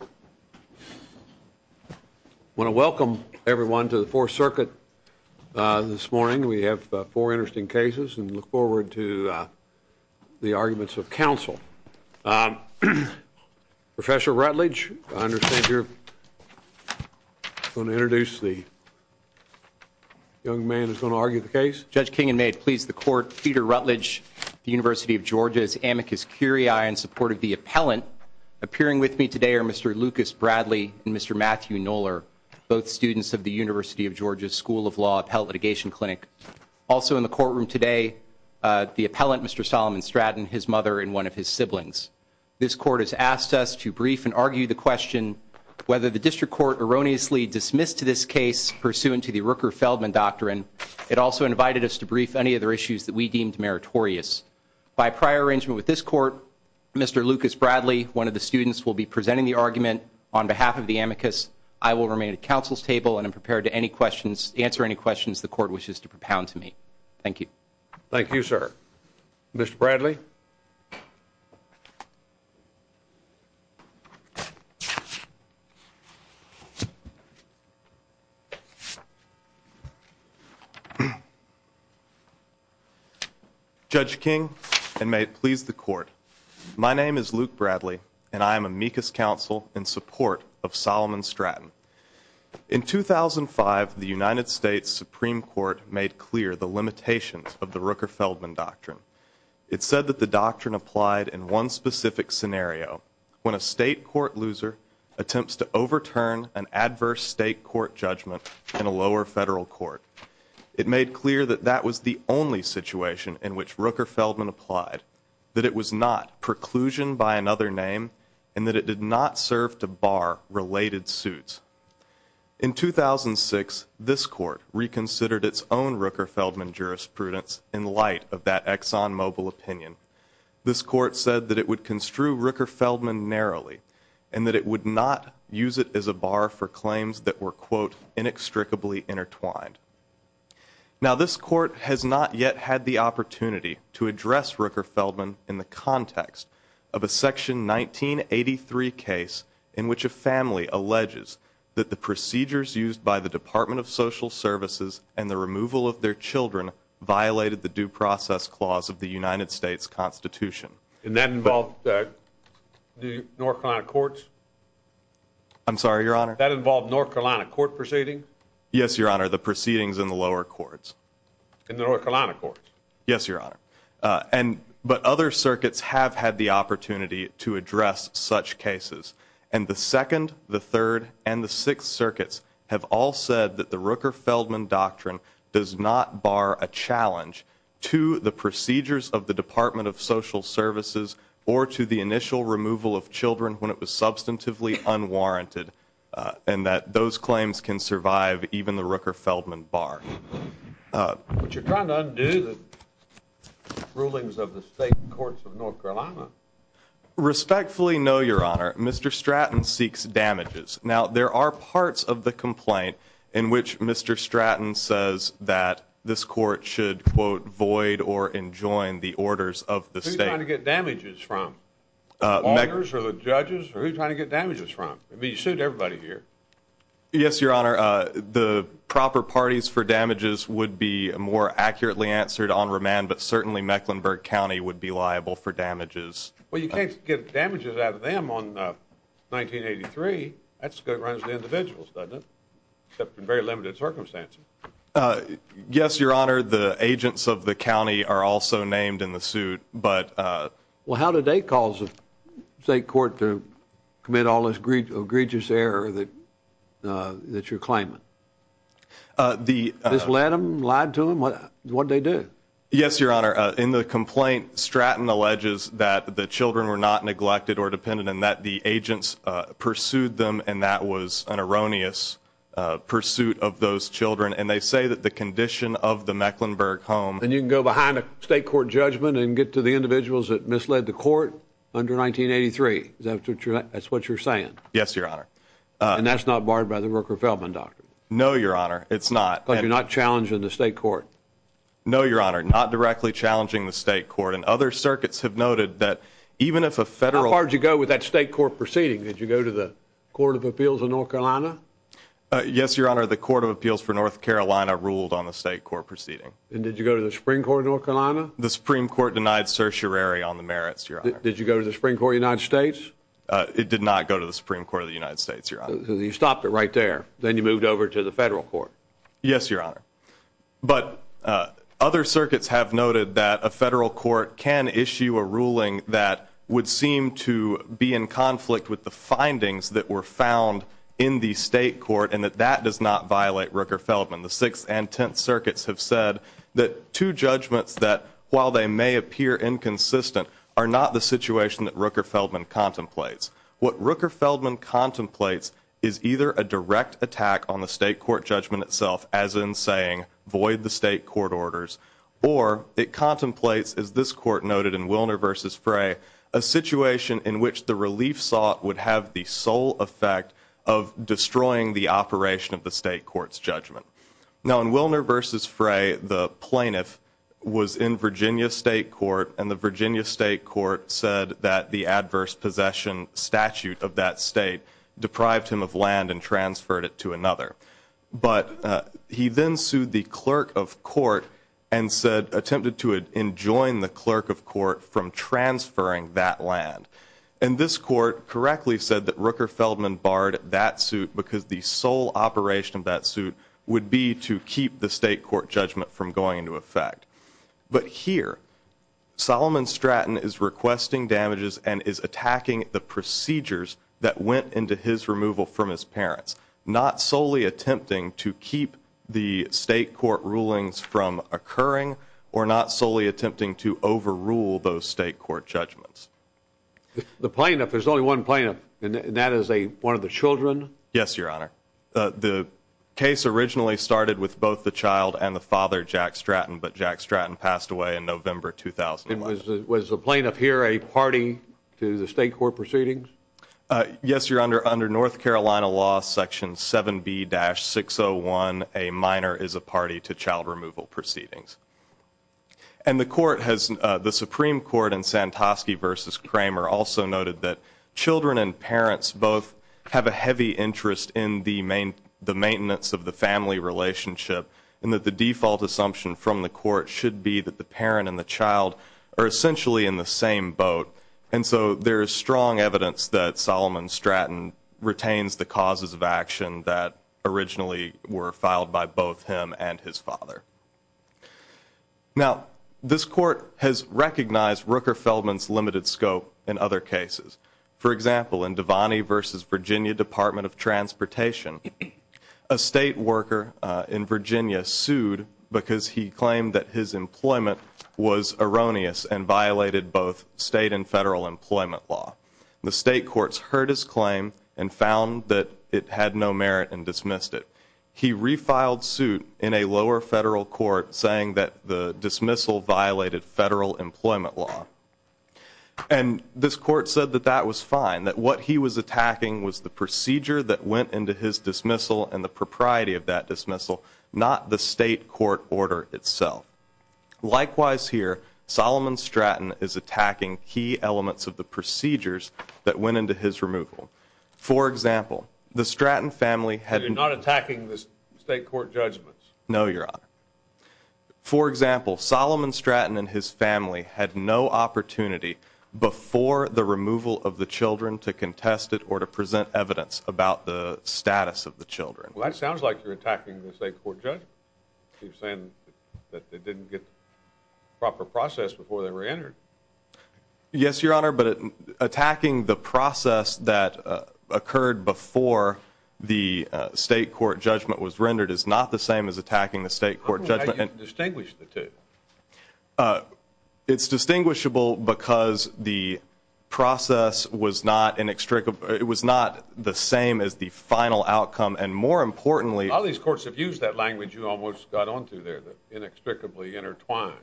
I want to welcome everyone to the Fourth Circuit this morning. We have four interesting cases and look forward to the arguments of counsel. Professor Rutledge, I understand you're going to introduce the young man who's going to argue the case? Thank you, Judge. Judge Kingen, may it please the court, Peter Rutledge, University of Georgia's amicus curiae in support of the appellant. Appearing with me today are Mr. Lucas Bradley and Mr. Matthew Noller, both students of the University of Georgia School of Law Appellate Litigation Clinic. Also in the courtroom today, the appellant, Mr. Solomon Stratton, his mother and one of his siblings. This court has asked us to brief and argue the question whether the district court erroneously dismissed this case pursuant to the Rooker-Feldman doctrine. It also invited us to brief any other issues that we deemed meritorious. By prior arrangement with this court, Mr. Lucas Bradley, one of the students, will be presenting the argument on behalf of the amicus. I will remain at counsel's table and am prepared to answer any questions the court wishes to propound to me. Thank you. Thank you, sir. Mr. Bradley? Judge King, and may it please the court, my name is Luke Bradley, and I am amicus counsel in support of Solomon Stratton. In 2005, the United States Supreme Court made clear the limitations of the Rooker-Feldman doctrine. It said that the doctrine applied in one specific scenario, when a state court loser attempts to overturn an adverse state court judgment in a lower federal court. It made clear that that was the only situation in which Rooker-Feldman applied, that it was not preclusion by another name, and that it did not serve to bar related suits. In 2006, this court reconsidered its own Rooker-Feldman jurisprudence in light of that ExxonMobil opinion. This court said that it would construe Rooker-Feldman narrowly and that it would not use it as a bar for claims that were, quote, in the context of a Section 1983 case in which a family alleges that the procedures used by the Department of Social Services and the removal of their children violated the Due Process Clause of the United States Constitution. And that involved the North Carolina courts? I'm sorry, Your Honor? That involved North Carolina court proceedings? Yes, Your Honor, the proceedings in the lower courts. In the North Carolina courts? Yes, Your Honor. But other circuits have had the opportunity to address such cases. And the Second, the Third, and the Sixth Circuits have all said that the Rooker-Feldman doctrine does not bar a challenge to the procedures of the Department of Social Services or to the initial removal of children when it was substantively unwarranted and that those claims can survive even the Rooker-Feldman bar. But you're trying to undo the rulings of the state courts of North Carolina? Respectfully, no, Your Honor. Mr. Stratton seeks damages. Now, there are parts of the complaint in which Mr. Stratton says that this court should, quote, void or enjoin the orders of the state. Who are you trying to get damages from, the lawyers or the judges? Who are you trying to get damages from? I mean, you sued everybody here. Yes, Your Honor. The proper parties for damages would be more accurately answered on remand, but certainly Mecklenburg County would be liable for damages. Well, you can't get damages out of them on 1983. That's because it runs to individuals, doesn't it, except in very limited circumstances. Yes, Your Honor. The agents of the county are also named in the suit, but— Well, how did they cause the state court to commit all this egregious error that you're claiming? This led them, lied to them? What did they do? Yes, Your Honor. In the complaint, Stratton alleges that the children were not neglected or dependent and that the agents pursued them, and that was an erroneous pursuit of those children. And they say that the condition of the Mecklenburg home— Then you can go behind a state court judgment and get to the individuals that misled the court under 1983. Is that what you're saying? Yes, Your Honor. And that's not barred by the Rooker-Feldman doctrine? No, Your Honor, it's not. But you're not challenging the state court? No, Your Honor, not directly challenging the state court. And other circuits have noted that even if a federal— How far did you go with that state court proceeding? Did you go to the Court of Appeals of North Carolina? Yes, Your Honor, the Court of Appeals for North Carolina ruled on the state court proceeding. And did you go to the Supreme Court of North Carolina? The Supreme Court denied certiorari on the merits, Your Honor. Did you go to the Supreme Court of the United States? It did not go to the Supreme Court of the United States, Your Honor. So you stopped it right there. Then you moved over to the federal court. Yes, Your Honor. But other circuits have noted that a federal court can issue a ruling that would seem to be in conflict with the findings that were found in the state court and that that does not violate Rooker-Feldman. The Sixth and Tenth Circuits have said that two judgments that, while they may appear inconsistent, are not the situation that Rooker-Feldman contemplates. What Rooker-Feldman contemplates is either a direct attack on the state court judgment itself, as in saying, void the state court orders, or it contemplates, as this court noted in Willner v. Frey, a situation in which the relief sought would have the sole effect of destroying the operation of the state court's judgment. Now, in Willner v. Frey, the plaintiff was in Virginia State Court, and the Virginia State Court said that the adverse possession statute of that state deprived him of land and transferred it to another. But he then sued the clerk of court and attempted to enjoin the clerk of court from transferring that land. And this court correctly said that Rooker-Feldman barred that suit because the sole operation of that suit would be to keep the state court judgment from going into effect. But here, Solomon Stratton is requesting damages and is attacking the procedures that went into his removal from his parents, not solely attempting to keep the state court rulings from occurring or not solely attempting to overrule those state court judgments. The plaintiff, there's only one plaintiff, and that is one of the children? Yes, Your Honor. The case originally started with both the child and the father, Jack Stratton, but Jack Stratton passed away in November 2001. Was the plaintiff here a party to the state court proceedings? Yes, Your Honor. Under North Carolina law section 7B-601, a minor is a party to child removal proceedings. And the Supreme Court in Santosky v. Kramer also noted that children and parents both have a heavy interest in the maintenance of the family relationship and that the default assumption from the court should be that the parent and the child are essentially in the same boat. And so there is strong evidence that Solomon Stratton retains the causes of action that originally were filed by both him and his father. Now, this court has recognized Rooker Feldman's limited scope in other cases. For example, in Devaney v. Virginia Department of Transportation, a state worker in Virginia sued because he claimed that his employment was erroneous and violated both state and federal employment law. The state courts heard his claim and found that it had no merit and dismissed it. He refiled suit in a lower federal court saying that the dismissal violated federal employment law. And this court said that that was fine, that what he was attacking was the procedure that went into his dismissal and the propriety of that dismissal, not the state court order itself. Likewise here, Solomon Stratton is attacking key elements of the procedures that went into his removal. For example, the Stratton family had... You're not attacking the state court judgments? No, Your Honor. For example, Solomon Stratton and his family had no opportunity before the removal of the children to contest it or to present evidence about the status of the children. Well, that sounds like you're attacking the state court judgment. You're saying that they didn't get the proper process before they were entered. Yes, Your Honor, but attacking the process that occurred before the state court judgment was rendered is not the same as attacking the state court judgment. How do you distinguish the two? It's distinguishable because the process was not the same as the final outcome, and more importantly... Some of these courts have used that language you almost got onto there, the inexplicably intertwined.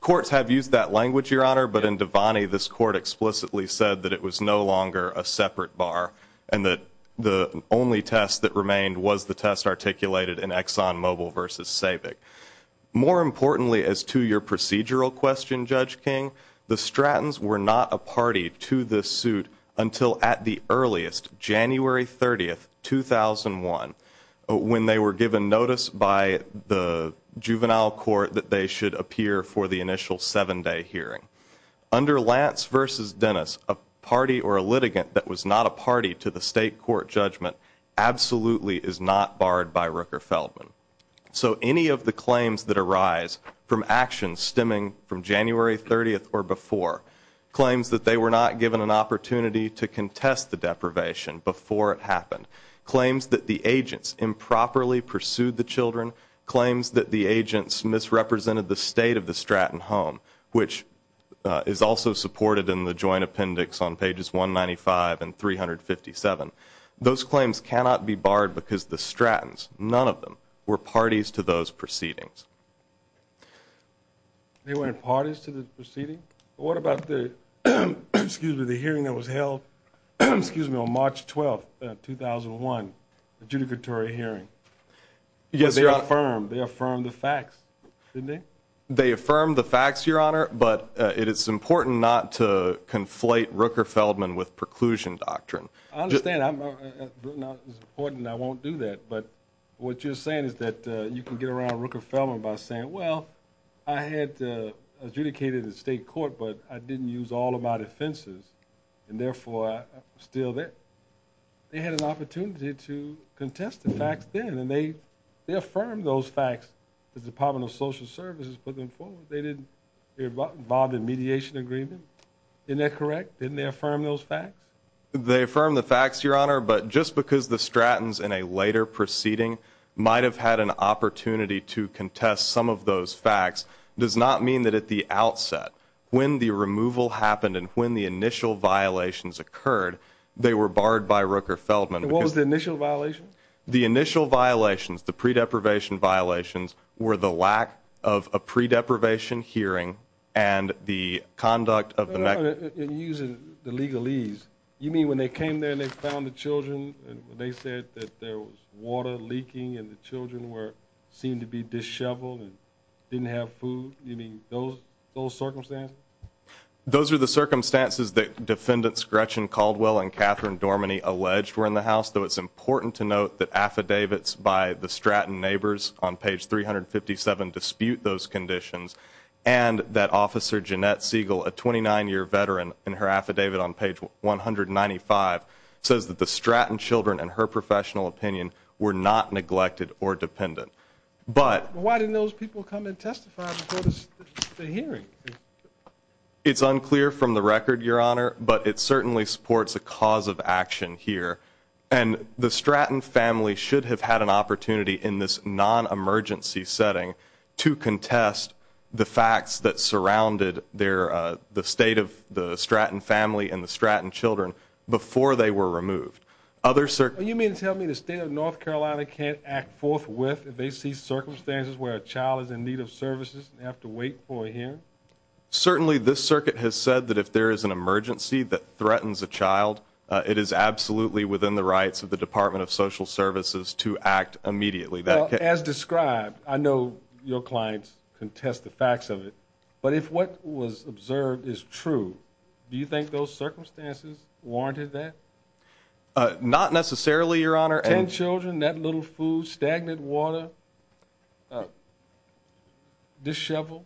Courts have used that language, Your Honor, but in Devaney this court explicitly said that it was no longer a separate bar and that the only test that remained was the test articulated in Exxon Mobil v. Sabic. More importantly as to your procedural question, Judge King, the Strattons were not a party to this suit until at the earliest, January 30, 2001, when they were given notice by the juvenile court that they should appear for the initial seven-day hearing. Under Lance v. Dennis, a party or a litigant that was not a party to the state court judgment absolutely is not barred by Rooker-Feldman. So any of the claims that arise from actions stemming from January 30 or before, claims that they were not given an opportunity to contest the deprivation before it happened, claims that the agents improperly pursued the children, claims that the agents misrepresented the state of the Stratton home, which is also supported in the joint appendix on pages 195 and 357, those claims cannot be barred because the Strattons, none of them, were parties to those proceedings. They weren't parties to the proceedings? What about the hearing that was held on March 12, 2001, the adjudicatory hearing? They affirmed the facts, didn't they? They affirmed the facts, Your Honor, but it is important not to conflate Rooker-Feldman with preclusion doctrine. I understand. It's important, and I won't do that, but what you're saying is that you can get around Rooker-Feldman by saying, well, I had adjudicated in state court, but I didn't use all of my defenses, and therefore I'm still there. They had an opportunity to contest the facts then, and they affirmed those facts. The Department of Social Services put them forward. They didn't get involved in a mediation agreement. Isn't that correct? Didn't they affirm those facts? They affirmed the facts, Your Honor, but just because the Strattons in a later proceeding might have had an opportunity to contest some of those facts does not mean that at the outset, when the removal happened and when the initial violations occurred, they were barred by Rooker-Feldman. What was the initial violation? The initial violations, the pre-deprivation violations, were the lack of a pre-deprivation hearing and the conduct of the neck. You're using the legalese. You mean when they came there and they found the children and they said that there was water leaking and the children seemed to be disheveled and didn't have food? You mean those circumstances? Those are the circumstances that Defendants Gretchen Caldwell and Catherine Dormany alleged were in the house, though it's important to note that affidavits by the Stratton neighbors on page 357 dispute those conditions. And that Officer Jeanette Siegel, a 29-year veteran, in her affidavit on page 195 says that the Stratton children and her professional opinion were not neglected or dependent. But why didn't those people come and testify before the hearing? It's unclear from the record, Your Honor, but it certainly supports a cause of action here. And the Stratton family should have had an opportunity in this non-emergency setting to contest the facts that surrounded the state of the Stratton family and the Stratton children before they were removed. You mean to tell me the state of North Carolina can't act forthwith if they see circumstances where a child is in need of services and they have to wait for a hearing? Certainly this circuit has said that if there is an emergency that threatens a child, it is absolutely within the rights of the Department of Social Services to act immediately. As described, I know your clients contest the facts of it, but if what was observed is true, do you think those circumstances warranted that? Not necessarily, Your Honor. Ten children, that little food, stagnant water, disheveled.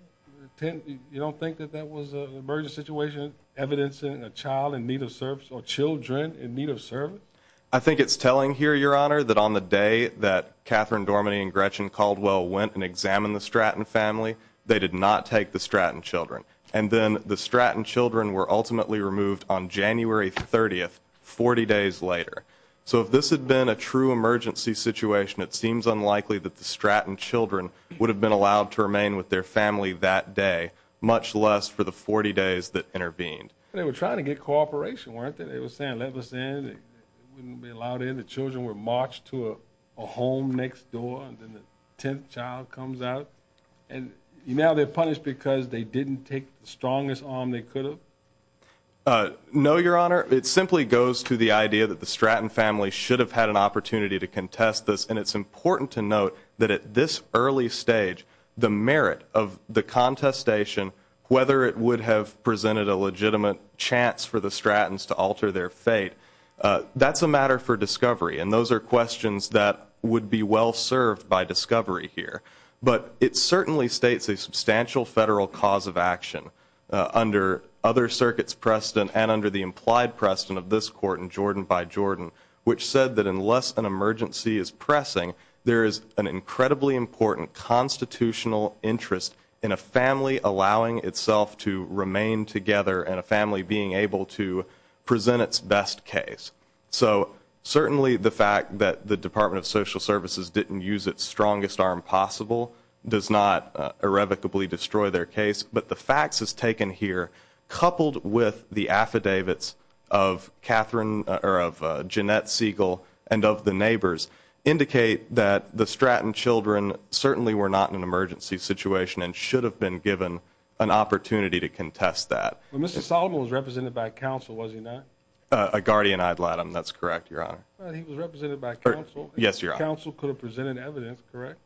You don't think that that was an emergency situation evidencing a child in need of service or children in need of service? I think it's telling here, Your Honor, that on the day that Catherine Dormanee and Gretchen Caldwell went and examined the Stratton family, they did not take the Stratton children. And then the Stratton children were ultimately removed on January 30th, 40 days later. So if this had been a true emergency situation, it seems unlikely that the Stratton children would have been allowed to remain with their family that day, much less for the 40 days that intervened. They were trying to get cooperation, weren't they? They were saying, let us in. They wouldn't be allowed in. The children were marched to a home next door, and then the tenth child comes out. And now they're punished because they didn't take the strongest arm they could have? No, Your Honor. It simply goes to the idea that the Stratton family should have had an opportunity to contest this, and it's important to note that at this early stage, the merit of the contestation, whether it would have presented a legitimate chance for the Strattons to alter their fate, that's a matter for discovery, and those are questions that would be well served by discovery here. But it certainly states a substantial Federal cause of action under other circuits precedent and under the implied precedent of this Court in Jordan by Jordan, which said that unless an emergency is pressing, there is an incredibly important constitutional interest in a family allowing itself to remain together and a family being able to present its best case. So certainly the fact that the Department of Social Services didn't use its strongest arm possible does not irrevocably destroy their case, but the facts as taken here coupled with the affidavits of Jeanette Siegel and of the neighbors indicate that the Stratton children certainly were not in an emergency situation and should have been given an opportunity to contest that. Well, Mr. Solomon was represented by counsel, was he not? A guardian ad latim, that's correct, Your Honor. He was represented by counsel. Yes, Your Honor. Counsel could have presented evidence, correct?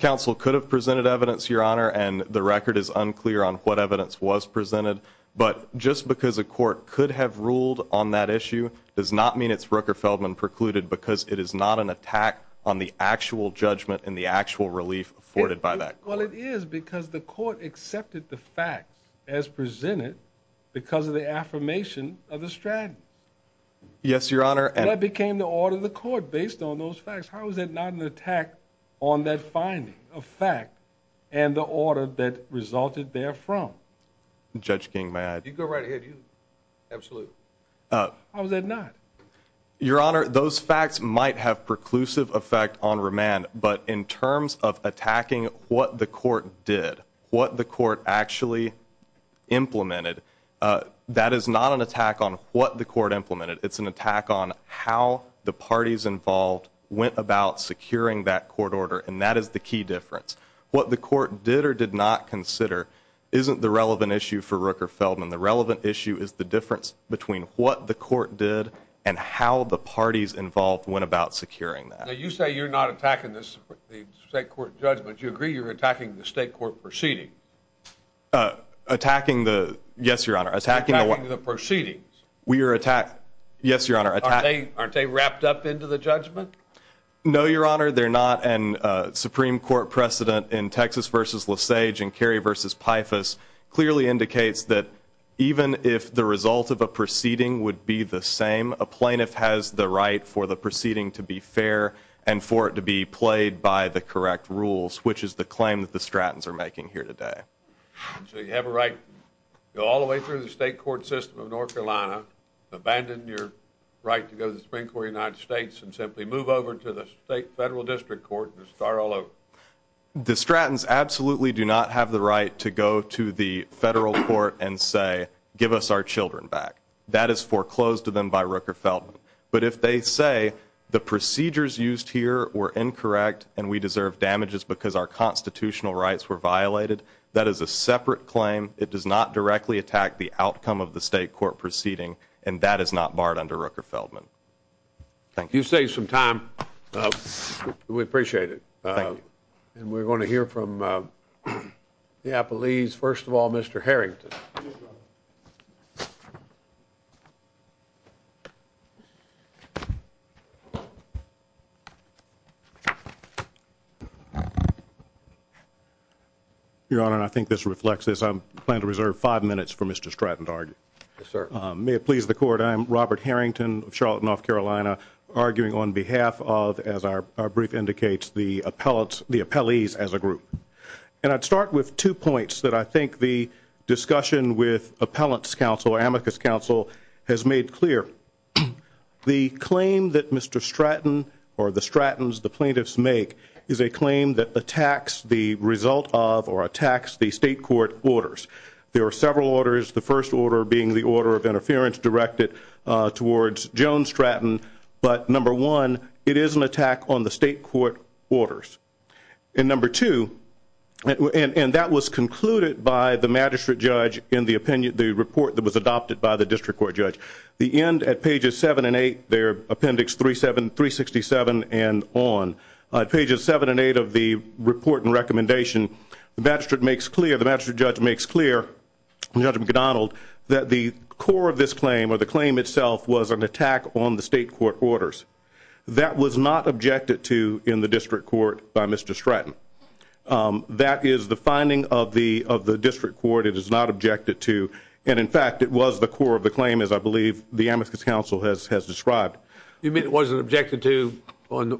Counsel could have presented evidence, Your Honor, and the record is unclear on what evidence was presented. But just because a court could have ruled on that issue does not mean it's Rooker-Feldman precluded because it is not an attack on the actual judgment and the actual relief afforded by that court. Well, it is because the court accepted the facts as presented because of the affirmation of the Strattons. Yes, Your Honor. And that became the order of the court based on those facts. How is that not an attack on that finding of fact and the order that resulted therefrom? Judge King, may I? You go right ahead. Absolutely. How is that not? Your Honor, those facts might have preclusive effect on remand, but in terms of attacking what the court did, what the court actually implemented, that is not an attack on what the court implemented. It's an attack on how the parties involved went about securing that court order, and that is the key difference. What the court did or did not consider isn't the relevant issue for Rooker-Feldman. The relevant issue is the difference between what the court did and how the parties involved went about securing that. Now, you say you're not attacking the state court judgment. Do you agree you're attacking the state court proceeding? Attacking the? Yes, Your Honor. Attacking the proceedings. We are attacking. Yes, Your Honor. Aren't they wrapped up into the judgment? No, Your Honor, they're not, and Supreme Court precedent in Texas v. Lesage and Kerry v. Pythas clearly indicates that even if the result of a proceeding would be the same, a plaintiff has the right for the proceeding to be fair and for it to be played by the correct rules, which is the claim that the Strattons are making here today. So you have a right to go all the way through the state court system of North Carolina, abandon your right to go to the Supreme Court of the United States, and simply move over to the state federal district court and start all over. The Strattons absolutely do not have the right to go to the federal court and say, give us our children back. That is foreclosed to them by Rooker-Feldman. But if they say the procedures used here were incorrect and we deserve damages because our constitutional rights were violated, that is a separate claim. It does not directly attack the outcome of the state court proceeding, and that is not barred under Rooker-Feldman. Thank you. You saved some time. We appreciate it. Thank you. And we're going to hear from the Appellees. First of all, Mr. Harrington. Your Honor, I think this reflects this. I plan to reserve five minutes for Mr. Stratton to argue. Yes, sir. May it please the Court, I am Robert Harrington of Charlotte, North Carolina, arguing on behalf of, as our brief indicates, the Appellees as a group. And I'd start with two points that I think the discussion with Appellant's Counsel, or Amicus Counsel, has made clear. The claim that Mr. Stratton or the Strattons, the plaintiffs make, is a claim that attacks the result of or attacks the state court orders. There are several orders, the first order being the order of interference directed towards Joan Stratton. But, number one, it is an attack on the state court orders. And number two, and that was concluded by the magistrate judge in the opinion, the report that was adopted by the district court judge. The end at pages 7 and 8, they're appendix 367 and on. Pages 7 and 8 of the report and recommendation, the magistrate makes clear, the magistrate judge makes clear, Judge McDonald, that the core of this claim or the claim itself was an attack on the state court orders. That was not objected to in the district court by Mr. Stratton. That is the finding of the district court. It is not objected to. And, in fact, it was the core of the claim, as I believe the Amicus Counsel has described. You mean it wasn't objected to on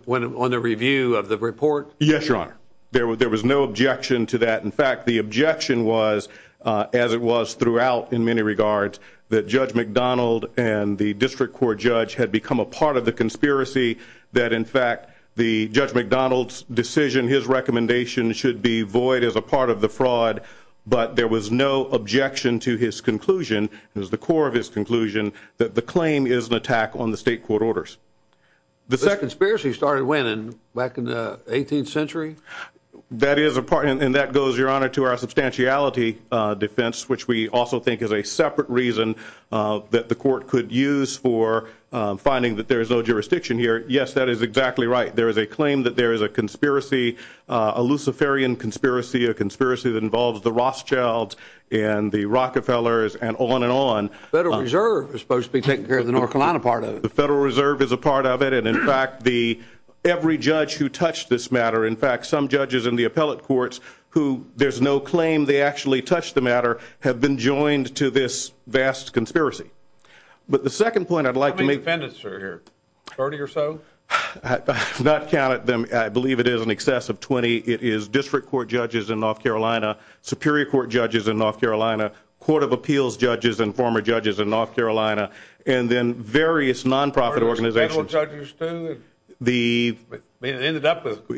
the review of the report? Yes, Your Honor. There was no objection to that. In fact, the objection was, as it was throughout in many regards, that Judge McDonald and the district court judge had become a part of the conspiracy, that, in fact, the Judge McDonald's decision, his recommendation, should be void as a part of the fraud. But there was no objection to his conclusion. It was the core of his conclusion that the claim is an attack on the state court orders. Back in the 18th century? That is a part, and that goes, Your Honor, to our substantiality defense, which we also think is a separate reason that the court could use for finding that there is no jurisdiction here. Yes, that is exactly right. There is a claim that there is a conspiracy, a Luciferian conspiracy, a conspiracy that involves the Rothschilds and the Rockefellers and on and on. The Federal Reserve is supposed to be taking care of the North Carolina part of it. The Federal Reserve is a part of it. And, in fact, every judge who touched this matter, in fact, some judges in the appellate courts who there's no claim they actually touched the matter, have been joined to this vast conspiracy. But the second point I'd like to make... How many defendants are here? 30 or so? I have not counted them. I believe it is in excess of 20. It is district court judges in North Carolina, superior court judges in North Carolina, court of appeals judges and former judges in North Carolina, and then various nonprofit organizations. Federal judges too? It ended up with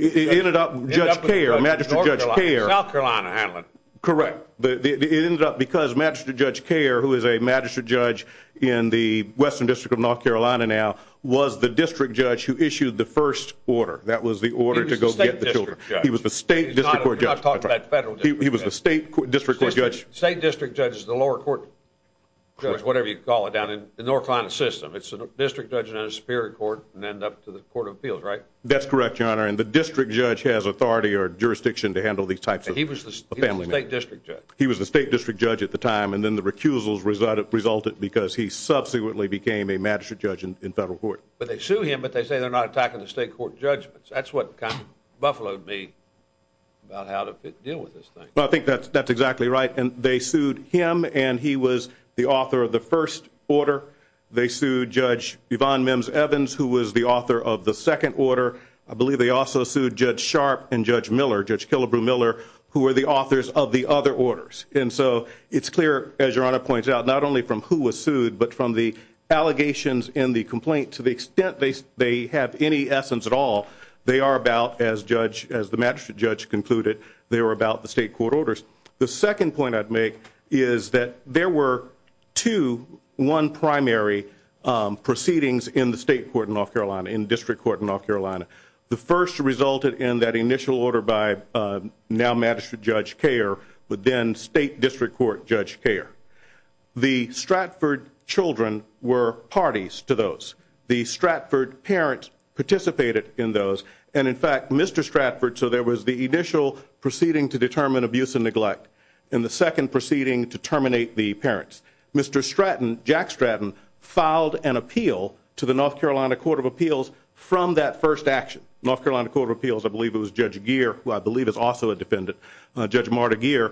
Judge Kare, Magistrate Judge Kare. South Carolina handled it. Correct. It ended up because Magistrate Judge Kare, who is a magistrate judge in the Western District of North Carolina now, was the district judge who issued the first order. That was the order to go get the children. He was the state district court judge. You're not talking about federal district judges. He was the state district court judge. State district judge is the lower court judge, whatever you call it down in the North Carolina system. It's a district judge in a superior court, and then up to the court of appeals, right? That's correct, Your Honor. And the district judge has authority or jurisdiction to handle these types of family matters. He was the state district judge. He was the state district judge at the time, and then the recusals resulted because he subsequently became a magistrate judge in federal court. But they sue him, but they say they're not attacking the state court judge. That's what kind of buffaloed me about how to deal with this thing. Well, I think that's exactly right. They sued him, and he was the author of the first order. They sued Judge Yvonne Mims Evans, who was the author of the second order. I believe they also sued Judge Sharp and Judge Miller, Judge Killebrew Miller, who were the authors of the other orders. And so it's clear, as Your Honor points out, not only from who was sued, but from the allegations in the complaint to the extent they have any essence at all. They are about, as the magistrate judge concluded, they were about the state court orders. The second point I'd make is that there were two one-primary proceedings in the state court in North Carolina, in district court in North Carolina. The first resulted in that initial order by now magistrate Judge Kare, but then state district court Judge Kare. The Stratford children were parties to those. The Stratford parents participated in those, and, in fact, Mr. Stratford, so there was the initial proceeding to determine abuse and neglect and the second proceeding to terminate the parents. Mr. Stratton, Jack Stratton, filed an appeal to the North Carolina Court of Appeals from that first action. North Carolina Court of Appeals, I believe it was Judge Gere, who I believe is also a defendant, Judge Marta Gere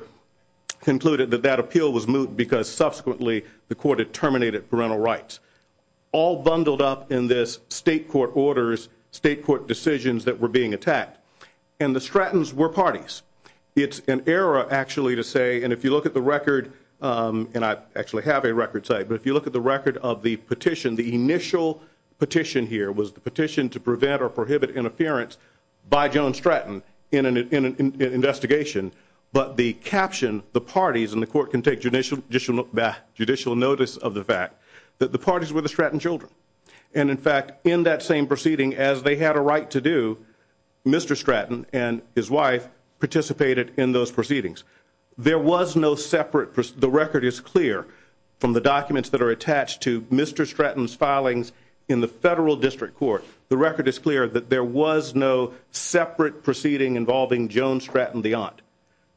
concluded that that appeal was moot because subsequently the court had terminated parental rights. All bundled up in this state court orders, state court decisions that were being attacked, and the Strattons were parties. It's an error, actually, to say, and if you look at the record, and I actually have a record, but if you look at the record of the petition, the initial petition here was the petition to prevent or prohibit interference by Joan Stratton in an investigation, but the caption, the parties, and the court can take judicial notice of the fact that the parties were the Stratton children, and, in fact, in that same proceeding, as they had a right to do, Mr. Stratton and his wife participated in those proceedings. There was no separate, the record is clear from the documents that are attached to Mr. Stratton's filings in the federal district court. The record is clear that there was no separate proceeding involving Joan Stratton, the aunt.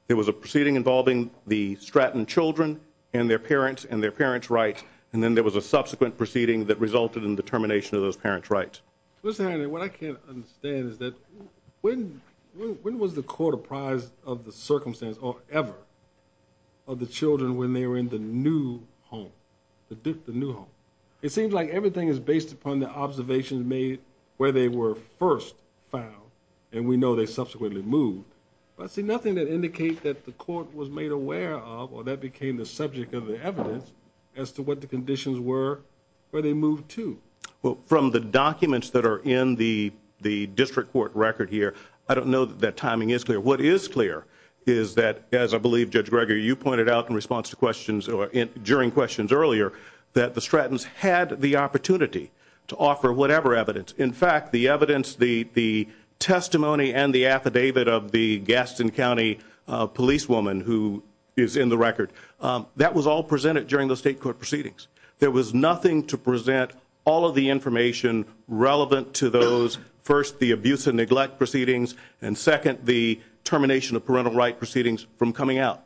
There was a proceeding involving the Stratton children and their parents and their parents' rights, and then there was a subsequent proceeding that resulted in the termination of those parents' rights. Mr. Henry, what I can't understand is that when was the court apprised of the circumstance or ever of the children when they were in the new home, the new home? It seems like everything is based upon the observations made where they were first found, and we know they subsequently moved. But I see nothing that indicates that the court was made aware of or that became the subject of the evidence as to what the conditions were where they moved to. Well, from the documents that are in the district court record here, I don't know that that timing is clear. What is clear is that, as I believe, Judge Greger, you pointed out in response to questions or during questions earlier, that the Strattons had the opportunity to offer whatever evidence. In fact, the evidence, the testimony and the affidavit of the Gaston County policewoman who is in the record, that was all presented during those state court proceedings. There was nothing to present all of the information relevant to those, first, the abuse and neglect proceedings, and second, the termination of parental right proceedings from coming out.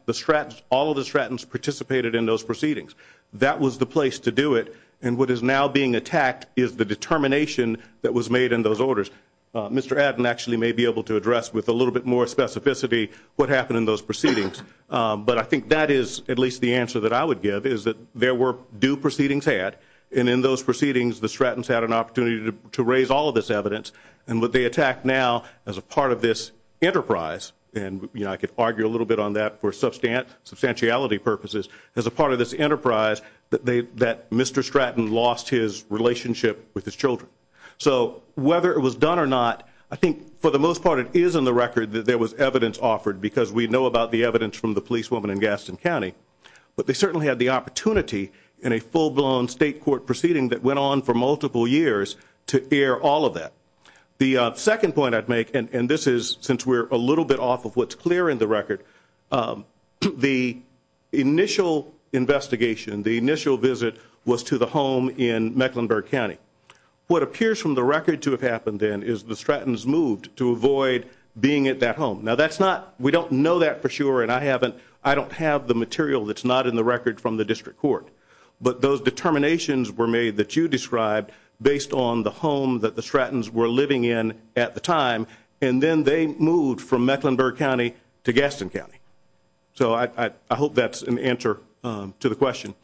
All of the Strattons participated in those proceedings. That was the place to do it, and what is now being attacked is the determination that was made in those orders. Mr. Adden actually may be able to address with a little bit more specificity what happened in those proceedings, but I think that is at least the answer that I would give is that there were due proceedings had, and in those proceedings the Strattons had an opportunity to raise all of this evidence, and what they attack now as a part of this enterprise, and I could argue a little bit on that for substantiality purposes, as a part of this enterprise that Mr. Stratton lost his relationship with his children. So whether it was done or not, I think for the most part it is in the record that there was evidence offered because we know about the evidence from the policewoman in Gaston County, but they certainly had the opportunity in a full-blown state court proceeding that went on for multiple years to air all of that. The second point I'd make, and this is since we're a little bit off of what's clear in the record, the initial investigation, the initial visit was to the home in Mecklenburg County. What appears from the record to have happened then is the Strattons moved to avoid being at that home. Now that's not, we don't know that for sure, and I don't have the material that's not in the record from the district court, but those determinations were made that you described based on the home that the Strattons were living in at the time, and then they moved from Mecklenburg County to Gaston County. So I hope that's an answer to the question.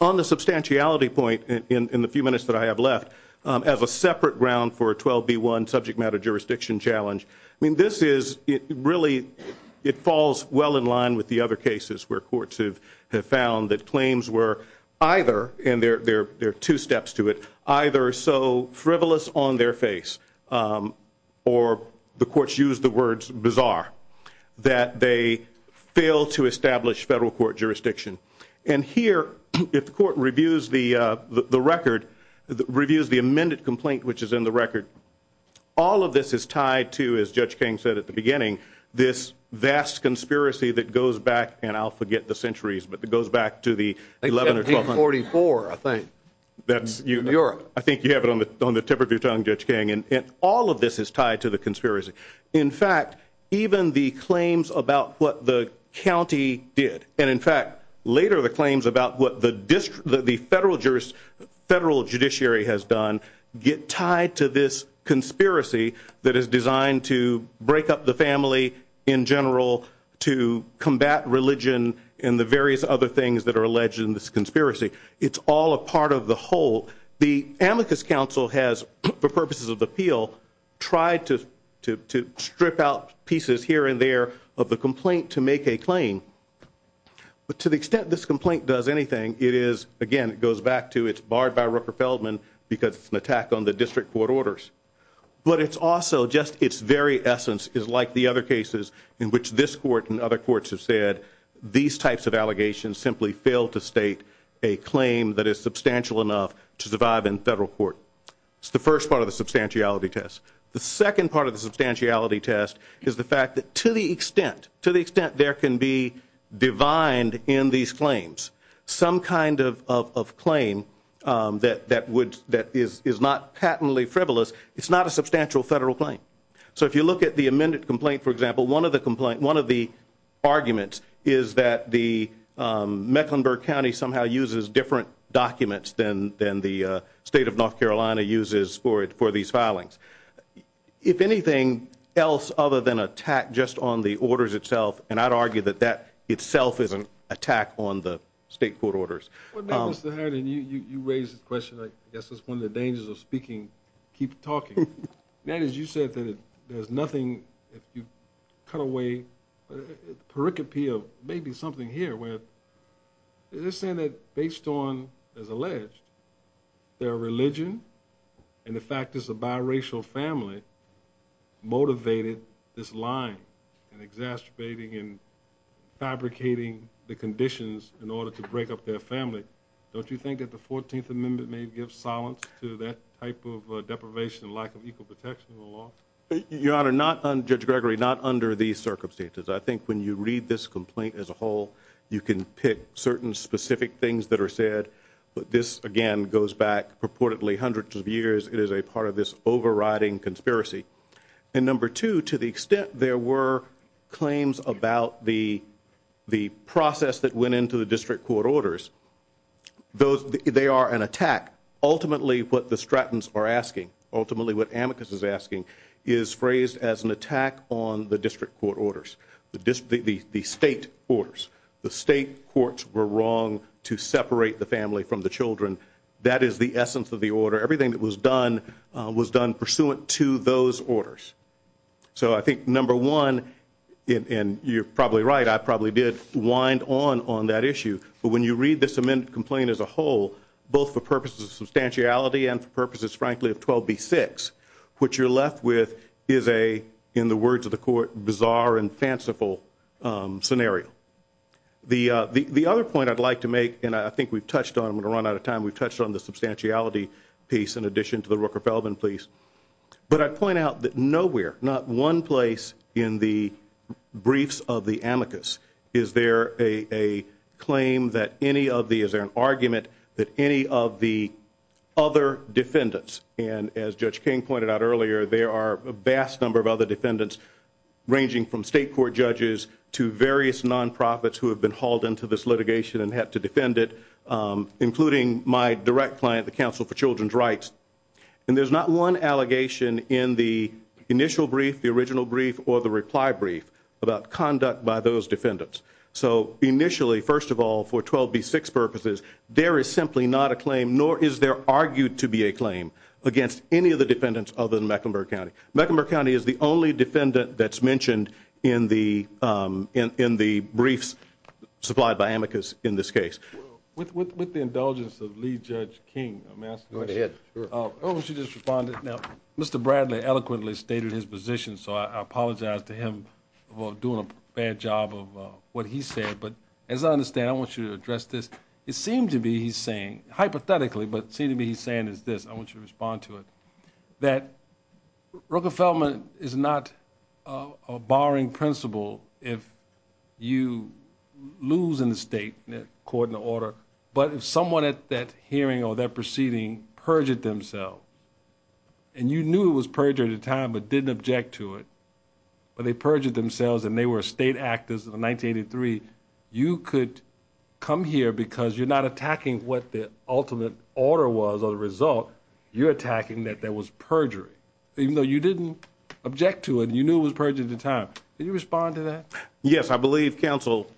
On the substantiality point in the few minutes that I have left, as a separate ground for a 12B1 subject matter jurisdiction challenge, I mean this is, it really, it falls well in line with the other cases where courts have found that claims were either, and there are two steps to it, either so frivolous on their face, or the courts use the words bizarre, that they fail to establish federal court jurisdiction. And here, if the court reviews the record, reviews the amended complaint which is in the record, all of this is tied to, as Judge King said at the beginning, this vast conspiracy that goes back, and I'll forget the centuries, but it goes back to the 11 or 12. 1744, I think. That's, I think you have it on the tip of your tongue, Judge King, and all of this is tied to the conspiracy. In fact, even the claims about what the county did, and in fact, later the claims about what the federal judiciary has done, get tied to this conspiracy that is designed to break up the family in general, to combat religion, and the various other things that are alleged in this conspiracy. It's all a part of the whole. The Amicus Council has, for purposes of appeal, tried to strip out pieces here and there of the complaint to make a claim. But to the extent this complaint does anything, it is, again, it goes back to it's barred by Rooker-Feldman because it's an attack on the district court orders. But it's also just its very essence is like the other cases in which this court and other courts have said these types of allegations simply fail to state a claim that is substantial enough to survive in federal court. It's the first part of the substantiality test. The second part of the substantiality test is the fact that to the extent there can be divined in these claims some kind of claim that is not patently frivolous, it's not a substantial federal claim. So if you look at the amended complaint, for example, one of the arguments is that Mecklenburg County somehow uses different documents than the state of North Carolina uses for these filings. If anything else other than an attack just on the orders itself, and I'd argue that that itself is an attack on the state court orders. Mr. Hardin, you raised the question, I guess it's one of the dangers of speaking, keep talking. You said that there's nothing, if you cut away the pericope of maybe something here where they're saying that based on, as alleged, their religion and the fact that it's a biracial family motivated this lying and exacerbating and fabricating the conditions in order to break up their family. Don't you think that the 14th Amendment may give silence to that type of deprivation and lack of equal protection in the law? Your Honor, Judge Gregory, not under these circumstances. I think when you read this complaint as a whole you can pick certain specific things that are said, but this again goes back purportedly hundreds of years. It is a part of this overriding conspiracy. And number two, to the extent there were claims about the process that went into the district court orders, they are an attack. Ultimately what the Strattons are asking, ultimately what Amicus is asking, is phrased as an attack on the district court orders, the state orders. The state courts were wrong to separate the family from the children. That is the essence of the order. Everything that was done was done pursuant to those orders. So I think number one, and you're probably right, I probably did wind on that issue, but when you read this amendment complaint as a whole, both for purposes of substantiality and for purposes, frankly, of 12b-6, what you're left with is a, in the words of the court, bizarre and fanciful scenario. The other point I'd like to make, and I think we've touched on, I'm going to run out of time, we've touched on the substantiality piece in addition to the Rooker-Feldman piece, but I'd point out that nowhere, not one place in the briefs of the Amicus, is there a claim that any of the, is there an argument that any of the other defendants, and as Judge King pointed out earlier, there are a vast number of other defendants ranging from state court judges to various non-profits who have been hauled into this litigation and have to defend it, including my direct client, the Council for Children's Rights. And there's not one allegation in the initial brief, the original brief, or the reply brief about conduct by those defendants. So initially, first of all, for 12b-6 purposes, there is simply not a claim, nor is there argued to be a claim against any of the defendants other than Mecklenburg County. Mecklenburg County is the only defendant that's mentioned in the briefs supplied by Amicus in this case. With the indulgence of Lead Judge King, may I ask a question? Go ahead. I want you to respond. Mr. Bradley eloquently stated his position, so I apologize to him for doing a bad job of what he said, but as I understand, I want you to address this. It seems to be he's saying, hypothetically, but it seems to be he's saying is this, I want you to respond to it, that Rockefellman is not a barring principle if you lose in the state according to order, but if someone at that hearing or that proceeding perjured themselves, and you knew it was perjured at the time but didn't object to it, but they perjured themselves and they were state actors in 1983, you could come here because you're not attacking what the ultimate order was or the result. You're attacking that there was perjury, even though you didn't object to it and you knew it was perjured at the time. Can you respond to that? Yes. I believe counsel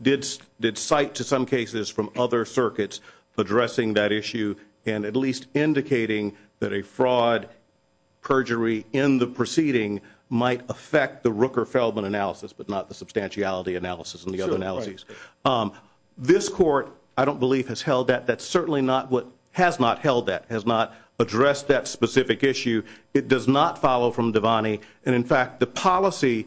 did cite to some cases from other circuits addressing that issue and at least indicating that a fraud perjury in the proceeding might affect the Rockefellman analysis but not the substantiality analysis and the other analyses. Sure, right. This court, I don't believe, has held that. That's certainly not what has not held that, has not addressed that specific issue. It does not follow from Devaney, and in fact, the policy,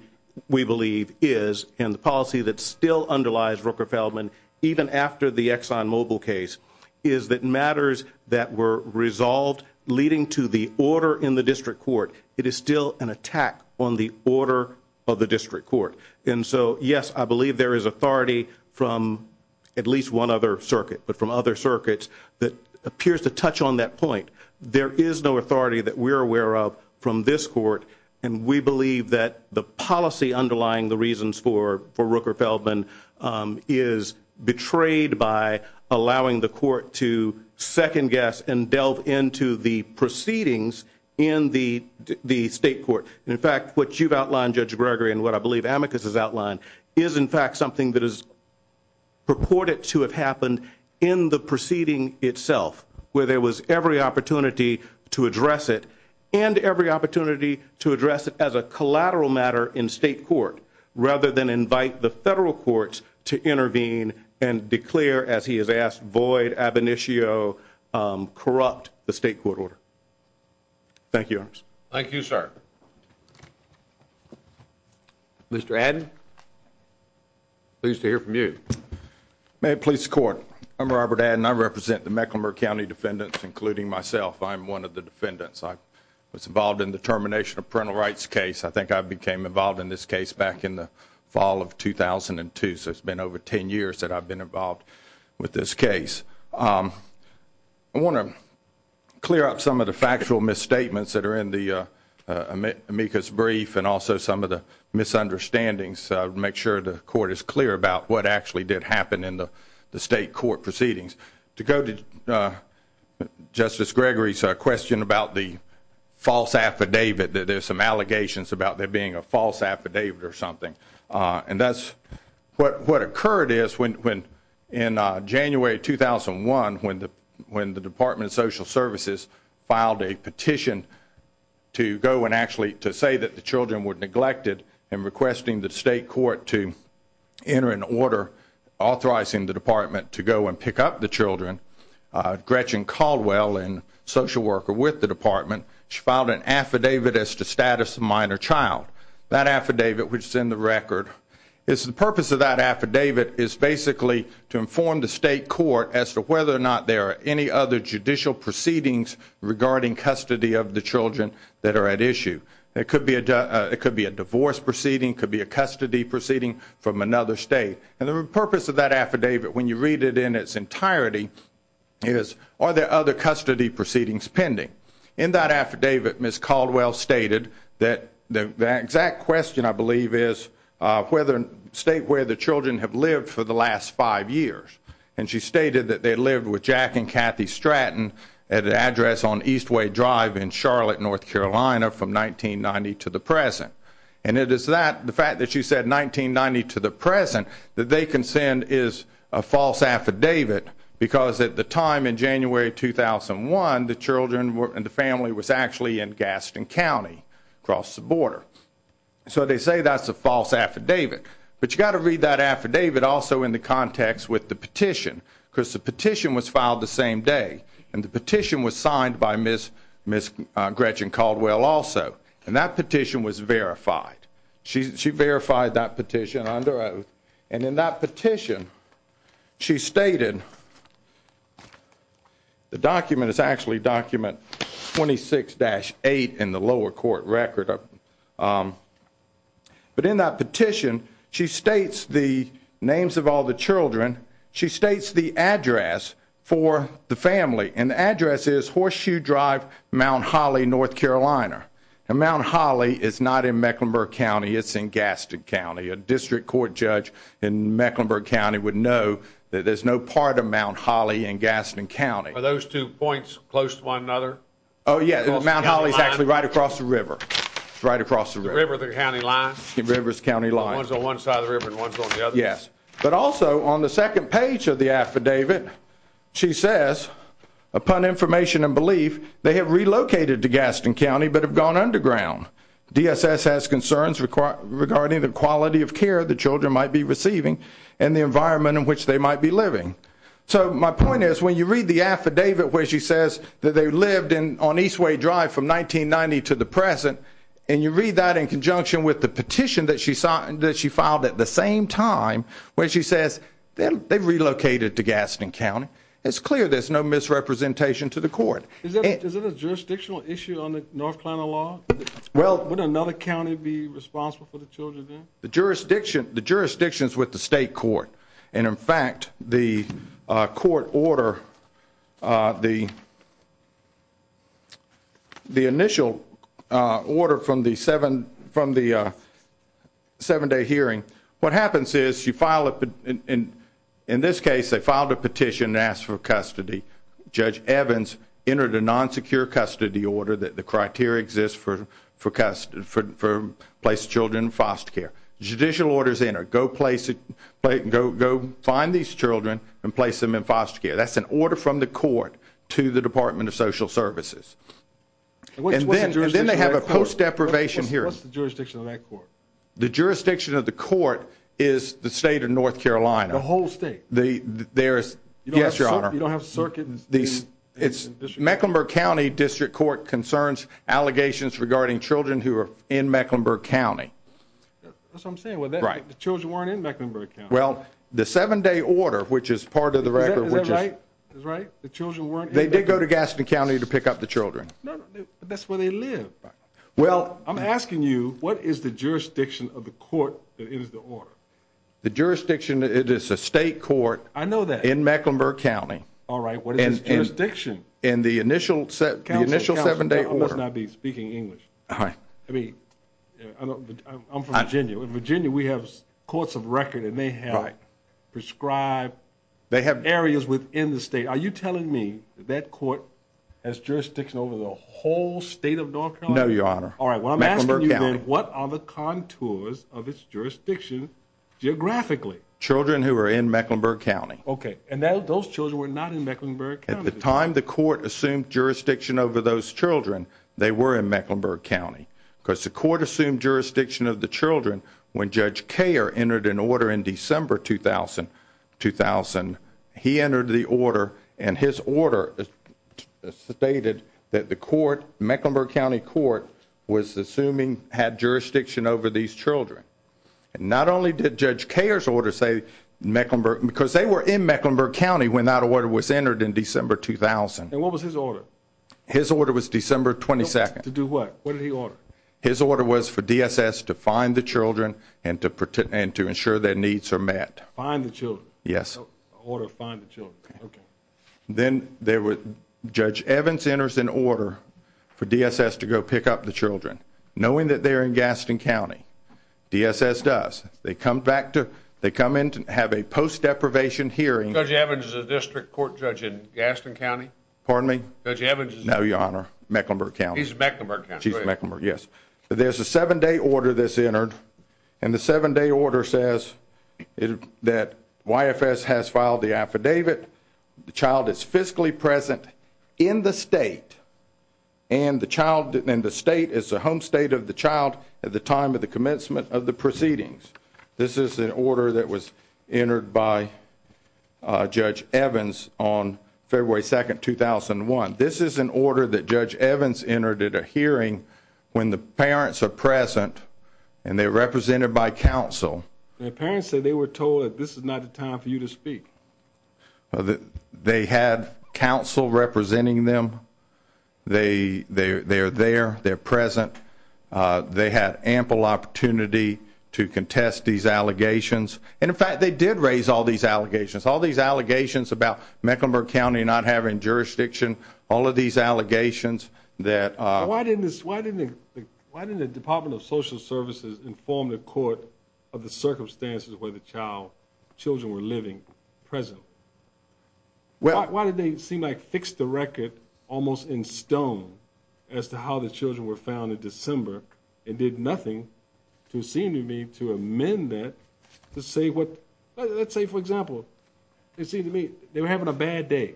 we believe, is, and the policy that still underlies Rockefellman, even after the ExxonMobil case, is that matters that were resolved leading to the order in the district court, it is still an attack on the order of the district court. And so, yes, I believe there is authority from at least one other circuit, but from other circuits that appears to touch on that point. There is no authority that we're aware of from this court, and we believe that the policy underlying the reasons for Rockefellman is betrayed by allowing the court to second guess and delve into the proceedings in the state court. In fact, what you've outlined, Judge Gregory, and what I believe Amicus has outlined, is in fact something that is purported to have happened in the proceeding itself, where there was every opportunity to address it and every opportunity to address it as a collateral matter in state court rather than invite the federal courts to intervene and declare, as he has asked, void, ab initio, corrupt the state court order. Thank you. Thank you, sir. Mr. Adden, pleased to hear from you. May it please the Court. I'm Robert Adden. I represent the Mecklenburg County defendants, including myself. I'm one of the defendants. I was involved in the termination of parental rights case. I think I became involved in this case back in the fall of 2002, so it's been over ten years that I've been involved with this case. I want to clear up some of the factual misstatements that are in the Amicus brief and also some of the misunderstandings to make sure the Court is clear about what actually did happen in the state court proceedings. To go to Justice Gregory's question about the false affidavit, there's some allegations about there being a false affidavit or something. And that's what occurred is in January 2001, when the Department of Social Services filed a petition to go and actually to say that the children were neglected and requesting the state court to enter an order authorizing the department to go and pick up the children, Gretchen Caldwell, a social worker with the department, she filed an affidavit as to status of minor child. That affidavit, which is in the record, the purpose of that affidavit is basically to inform the state court as to whether or not there are any other judicial proceedings regarding custody of the children that are at issue. It could be a divorce proceeding. It could be a custody proceeding from another state. And the purpose of that affidavit, when you read it in its entirety, is are there other custody proceedings pending? In that affidavit, Ms. Caldwell stated that the exact question, I believe, is state where the children have lived for the last five years. And she stated that they lived with Jack and Kathy Stratton at an address on Eastway Drive in Charlotte, North Carolina, from 1990 to the present. And it is that, the fact that she said 1990 to the present, that they consent is a false affidavit because at the time, in January 2001, the children and the family was actually in Gaston County across the border. So they say that's a false affidavit. But you've got to read that affidavit also in the context with the petition because the petition was filed the same day. And the petition was signed by Ms. Gretchen Caldwell also. And that petition was verified. She verified that petition under oath. And in that petition, she stated the document is actually document 26-8 in the lower court record. But in that petition, she states the names of all the children. She states the address for the family. And the address is Horseshoe Drive, Mount Holly, North Carolina. And Mount Holly is not in Mecklenburg County. It's in Gaston County. A district court judge in Mecklenburg County would know that there's no part of Mount Holly in Gaston County. Are those two points close to one another? Oh, yeah. Mount Holly is actually right across the river. It's right across the river. The river, the county line? The river's county line. So one's on one side of the river and one's on the other? Yes. But also, on the second page of the affidavit, she says, upon information and belief, they have relocated to Gaston County but have gone underground. DSS has concerns regarding the quality of care the children might be receiving and the environment in which they might be living. So my point is when you read the affidavit where she says that they lived on Eastway Drive from 1990 to the present and you read that in conjunction with the petition that she filed at the same time, where she says they've relocated to Gaston County, it's clear there's no misrepresentation to the court. Is it a jurisdictional issue on the North Carolina law? Well, would another county be responsible for the children there? The jurisdiction is with the state court. And, in fact, the court order, the initial order from the seven-day hearing, what happens is you file a petition. In this case, they filed a petition and asked for custody. Judge Evans entered a non-secure custody order that the criteria exist for place of children in foster care. Judicial orders enter, go find these children and place them in foster care. That's an order from the court to the Department of Social Services. And then they have a post-deprivation hearing. What's the jurisdiction of that court? The jurisdiction of the court is the state of North Carolina. The whole state? Yes, Your Honor. You don't have circuit in the district? Mecklenburg County District Court concerns allegations regarding children who are in Mecklenburg County. That's what I'm saying. The children weren't in Mecklenburg County. Well, the seven-day order, which is part of the record, which is... Is that right? Is that right? The children weren't in Mecklenburg County? They did go to Gaston County to pick up the children. No, but that's where they live. Well... I'm asking you, what is the jurisdiction of the court that is the order? The jurisdiction, it is the state court... I know that. ...in Mecklenburg County. All right, what is its jurisdiction? In the initial seven-day order. Counsel, I must not be speaking English. All right. I mean, I'm from Virginia. In Virginia, we have courts of record, and they have prescribed areas within the state. Are you telling me that that court has jurisdiction over the whole state of North Carolina? No, Your Honor. All right, what I'm asking you then... Mecklenburg County. ...what are the contours of its jurisdiction geographically? Children who are in Mecklenburg County. Okay, and those children were not in Mecklenburg County. At the time the court assumed jurisdiction over those children, they were in Mecklenburg County. Because the court assumed jurisdiction of the children when Judge Koehler entered an order in December 2000. He entered the order, and his order stated that the court, Mecklenburg County Court, was assuming had jurisdiction over these children. And not only did Judge Koehler's order say Mecklenburg, because they were in Mecklenburg County when that order was entered in December 2000. And what was his order? His order was December 22nd. To do what? What did he order? His order was for DSS to find the children and to ensure their needs are met. Find the children? Yes. An order to find the children. Okay. Then Judge Evans enters an order for DSS to go pick up the children, knowing that they're in Gaston County. DSS does. They come in to have a post-deprivation hearing. Judge Evans is a district court judge in Gaston County? Pardon me? Judge Evans is in? No, Your Honor. Mecklenburg County. He's in Mecklenburg County. She's in Mecklenburg, yes. There's a seven-day order that's entered, and the seven-day order says that YFS has filed the affidavit, the child is fiscally present in the state, and the state is the home state of the child at the time of the commencement of the proceedings. This is an order that was entered by Judge Evans on February 2nd, 2001. This is an order that Judge Evans entered at a hearing when the parents are present and they're represented by counsel. The parents said they were told that this is not the time for you to speak. They had counsel representing them. They are there. They're present. They had ample opportunity to contest these allegations, and, in fact, they did raise all these allegations, all these allegations about Mecklenburg County not having jurisdiction, all of these allegations. Why didn't the Department of Social Services inform the court of the circumstances where the children were living present? Why did they seem like fix the record almost in stone as to how the children were found in December and did nothing to seem to me to amend that to say what? Let's say, for example, it seemed to me they were having a bad day.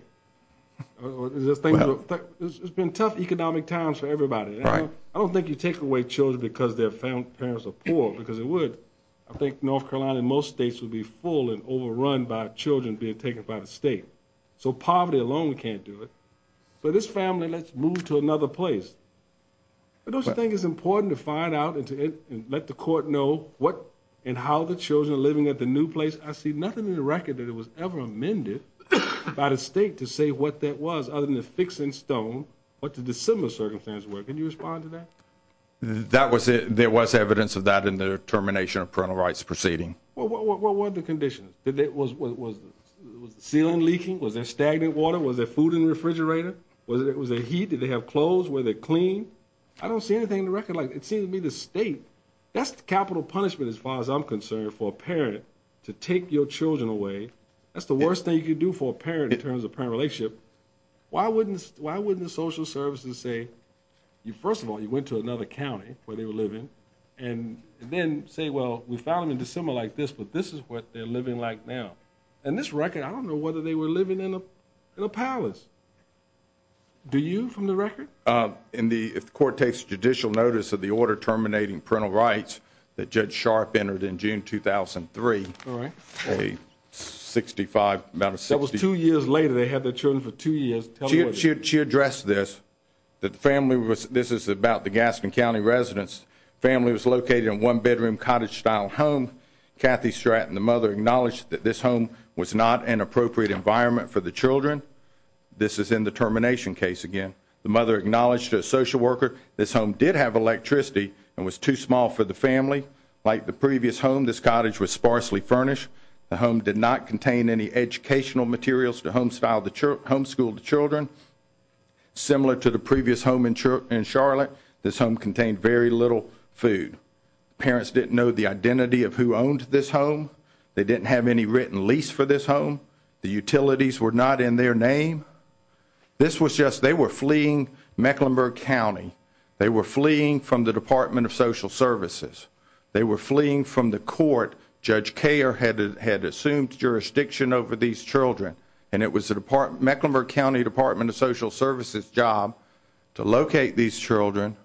It's been tough economic times for everybody. I don't think you take away children because their parents are poor, because it would. I think North Carolina and most states would be full and overrun by children being taken by the state. So poverty alone can't do it. So this family, let's move to another place. Don't you think it's important to find out and let the court know what and how the children are living at the new place? I see nothing in the record that it was ever amended by the state to say what that was other than a fix in stone what the December circumstances were. Can you respond to that? There was evidence of that in the termination of parental rights proceeding. What were the conditions? Was the ceiling leaking? Was there stagnant water? Was there food in the refrigerator? Was there heat? Did they have clothes? Were they clean? I don't see anything in the record. It seemed to me the state. That's capital punishment as far as I'm concerned for a parent to take your children away. That's the worst thing you could do for a parent in terms of parent relationship. Why wouldn't the social services say, first of all, you went to another county where they were living and then say, well, we found them in December like this, but this is what they're living like now. In this record, I don't know whether they were living in a palace. Do you from the record? If the court takes judicial notice of the order terminating parental rights that Judge Sharp entered in June 2003, a 65, about a 60. That was two years later. They had their children for two years. She addressed this, that the family was, this is about the Gaskin County residents. The family was located in a one-bedroom cottage-style home. Kathy Stratton, the mother, acknowledged that this home was not an appropriate environment for the children. This is in the termination case again. The mother acknowledged to a social worker this home did have electricity and was too small for the family. Like the previous home, this cottage was sparsely furnished. The home did not contain any educational materials to homeschool the children. Similar to the previous home in Charlotte, this home contained very little food. Parents didn't know the identity of who owned this home. They didn't have any written lease for this home. The utilities were not in their name. This was just, they were fleeing Mecklenburg County. They were fleeing from the Department of Social Services. They were fleeing from the court. Judge Koehler had assumed jurisdiction over these children. And it was the Mecklenburg County Department of Social Services' job to locate these children.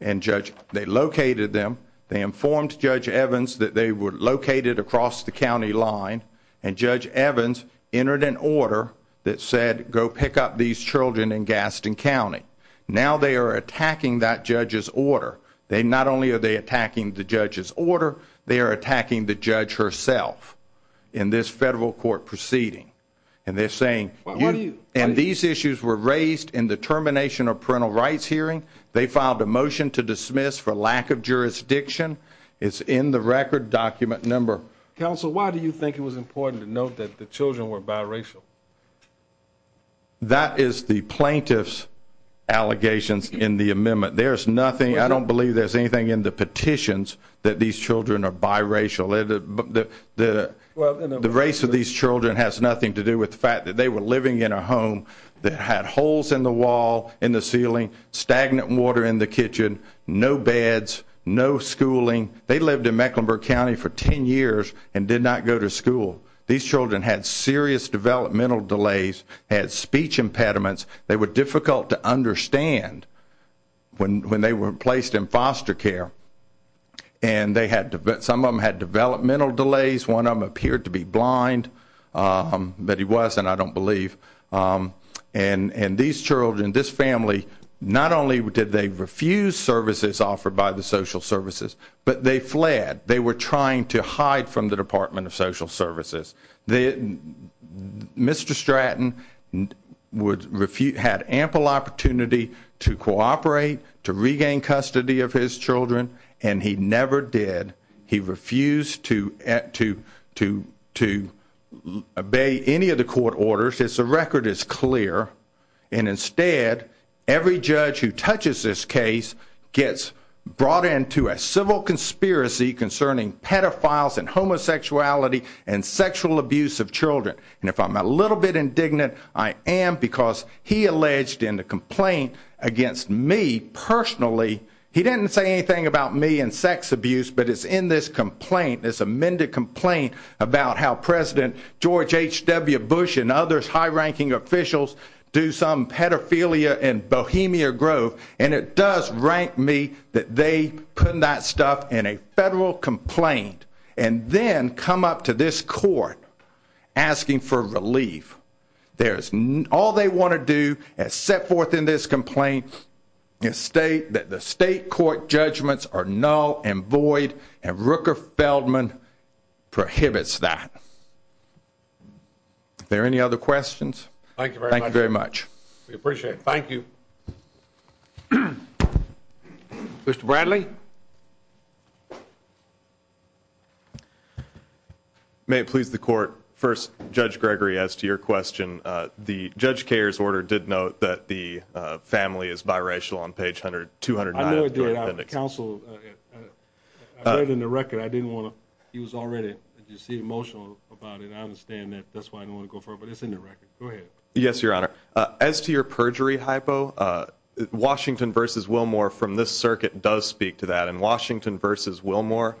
And Judge, they located them. They informed Judge Evans that they were located across the county line. And Judge Evans entered an order that said, go pick up these children in Gaskin County. Now they are attacking that judge's order. They not only are they attacking the judge's order, they are attacking the judge herself in this federal court proceeding. And they're saying, and these issues were raised in the termination of parental rights hearing. They filed a motion to dismiss for lack of jurisdiction. It's in the record document number. Counsel, why do you think it was important to note that the children were biracial? That is the plaintiff's allegations in the amendment. There's nothing, I don't believe there's anything in the petitions that these children are biracial. The race of these children has nothing to do with the fact that they were living in a home that had holes in the wall, in the ceiling, stagnant water in the kitchen, no beds, no schooling. They lived in Mecklenburg County for 10 years and did not go to school. These children had serious developmental delays, had speech impediments. They were difficult to understand when they were placed in foster care. And some of them had developmental delays. One of them appeared to be blind, but he wasn't, I don't believe. And these children, this family, not only did they refuse services offered by the social services, but they fled. They were trying to hide from the Department of Social Services. Mr. Stratton had ample opportunity to cooperate, to regain custody of his children, and he never did. He refused to obey any of the court orders. The record is clear, and instead, every judge who touches this case gets brought into a civil conspiracy concerning pedophiles and homosexuality and sexual abuse of children. And if I'm a little bit indignant, I am because he alleged in the complaint against me personally, he didn't say anything about me and sex abuse, but it's in this complaint, this amended complaint about how President George H.W. Bush and other high-ranking officials do some pedophilia in Bohemia Grove, and it does rank me that they put that stuff in a federal complaint and then come up to this court asking for relief. All they want to do, as set forth in this complaint, is state that the state court judgments are null and void, and Rooker Feldman prohibits that. Are there any other questions? Thank you very much. We appreciate it. Thank you. Mr. Bradley? May it please the court, first, Judge Gregory, as to your question, the Judge Kerr's order did note that the family is biracial on page 209 of the appendix. I know it did. I read in the record. I didn't want to. He was already, as you see, emotional about it. I understand that. That's why I didn't want to go further. But it's in the record. Go ahead. Yes, Your Honor. As to your perjury hypo, Washington v. Wilmore from this circuit does speak to that. In Washington v. Wilmore,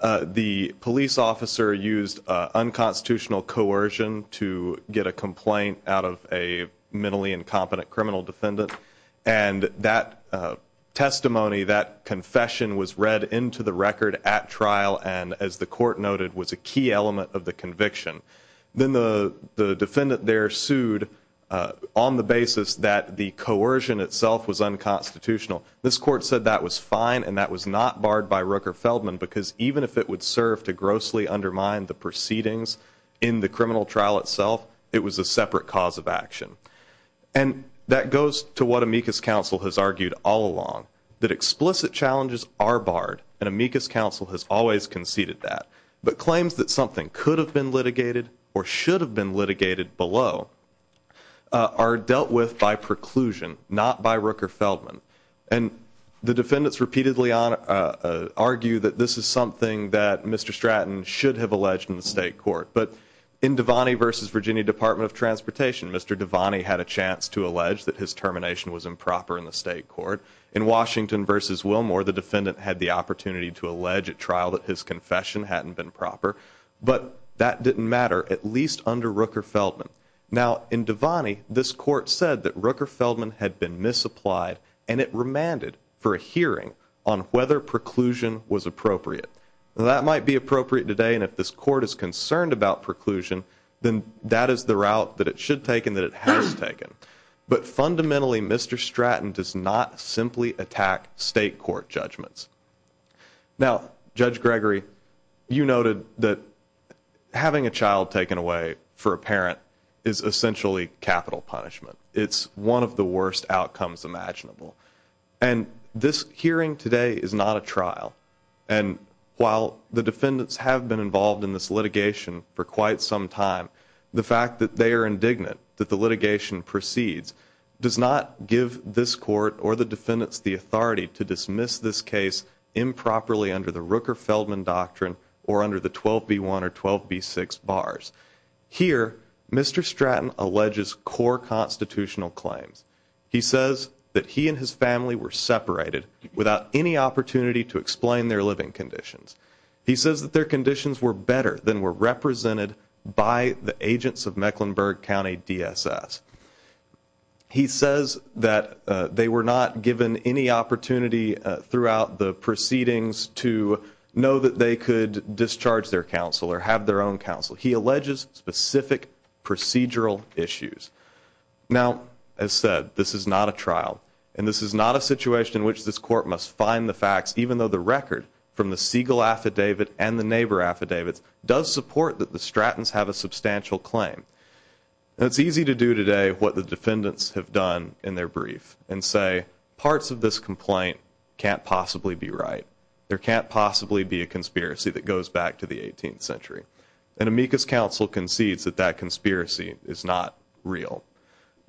the police officer used unconstitutional coercion to get a complaint out of a mentally incompetent criminal defendant. And that testimony, that confession, was read into the record at trial and, as the court noted, was a key element of the conviction. Then the defendant there sued on the basis that the coercion itself was unconstitutional. This court said that was fine and that was not barred by Rooker-Feldman because even if it would serve to grossly undermine the proceedings in the criminal trial itself, it was a separate cause of action. And that goes to what Amicus Counsel has argued all along, that explicit challenges are barred, and Amicus Counsel has always conceded that. But claims that something could have been litigated or should have been litigated below are dealt with by preclusion, not by Rooker-Feldman. And the defendants repeatedly argue that this is something that Mr. Stratton should have alleged in the state court. But in Devaney v. Virginia Department of Transportation, Mr. Devaney had a chance to allege that his termination was improper in the state court. In Washington v. Wilmore, the defendant had the opportunity to allege at trial that his confession hadn't been proper. But that didn't matter, at least under Rooker-Feldman. Now, in Devaney, this court said that Rooker-Feldman had been misapplied, and it remanded for a hearing on whether preclusion was appropriate. That might be appropriate today, and if this court is concerned about preclusion, then that is the route that it should take and that it has taken. But fundamentally, Mr. Stratton does not simply attack state court judgments. Now, Judge Gregory, you noted that having a child taken away for a parent is essentially capital punishment. It's one of the worst outcomes imaginable. And this hearing today is not a trial. And while the defendants have been involved in this litigation for quite some time, the fact that they are indignant that the litigation proceeds does not give this court or the defendants the authority to dismiss this case improperly under the Rooker-Feldman doctrine or under the 12b1 or 12b6 bars. Here, Mr. Stratton alleges core constitutional claims. He says that he and his family were separated without any opportunity to explain their living conditions. He says that their conditions were better than were represented by the agents of Mecklenburg County DSS. He says that they were not given any opportunity throughout the proceedings to know that they could discharge their counsel or have their own counsel. He alleges specific procedural issues. Now, as said, this is not a trial, and this is not a situation in which this court must find the facts, even though the record from the Siegel affidavit and the neighbor affidavits does support that the Strattons have a substantial claim. It's easy to do today what the defendants have done in their brief and say parts of this complaint can't possibly be right. There can't possibly be a conspiracy that goes back to the 18th century, and Amicus Counsel concedes that that conspiracy is not real.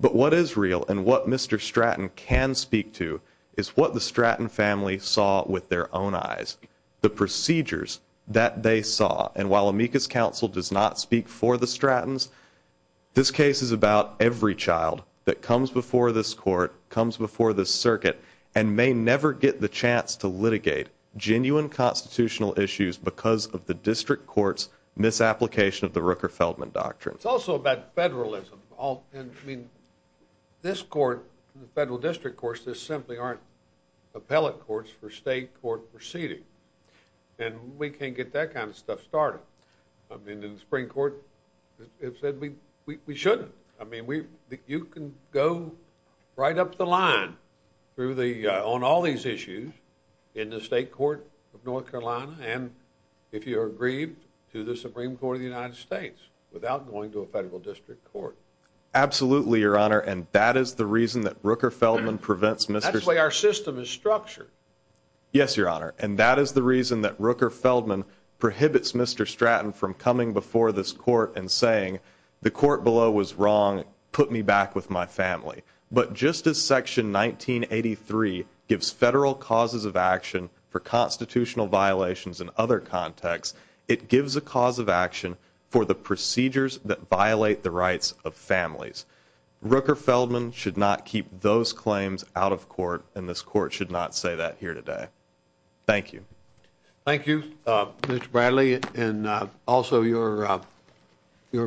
But what is real and what Mr. Stratton can speak to is what the Stratton family saw with their own eyes, the procedures that they saw. And while Amicus Counsel does not speak for the Strattons, this case is about every child that comes before this court, comes before this circuit, and may never get the chance to litigate genuine constitutional issues because of the district court's misapplication of the Rooker-Feldman Doctrine. It's also about federalism. I mean, this court, the federal district courts, there simply aren't appellate courts for state court proceeding, and we can't get that kind of stuff started. I mean, the Supreme Court has said we shouldn't. I mean, you can go right up the line on all these issues in the state court of North Carolina and, if you're aggrieved, to the Supreme Court of the United States without going to a federal district court. Absolutely, Your Honor, and that is the reason that Rooker-Feldman prevents Mr. Stratton. That's the way our system is structured. Yes, Your Honor, and that is the reason that Rooker-Feldman prohibits Mr. Stratton from coming before this court and saying, the court below was wrong, put me back with my family. But just as Section 1983 gives federal causes of action for constitutional violations in other contexts, Rooker-Feldman should not keep those claims out of court, and this court should not say that here today. Thank you. Thank you, Mr. Bradley, and also your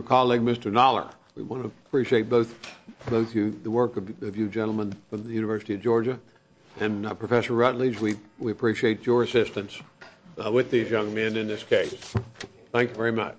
colleague, Mr. Noller. We want to appreciate both you, the work of you gentlemen from the University of Georgia, and Professor Rutledge, we appreciate your assistance with these young men in this case. Thank you very much.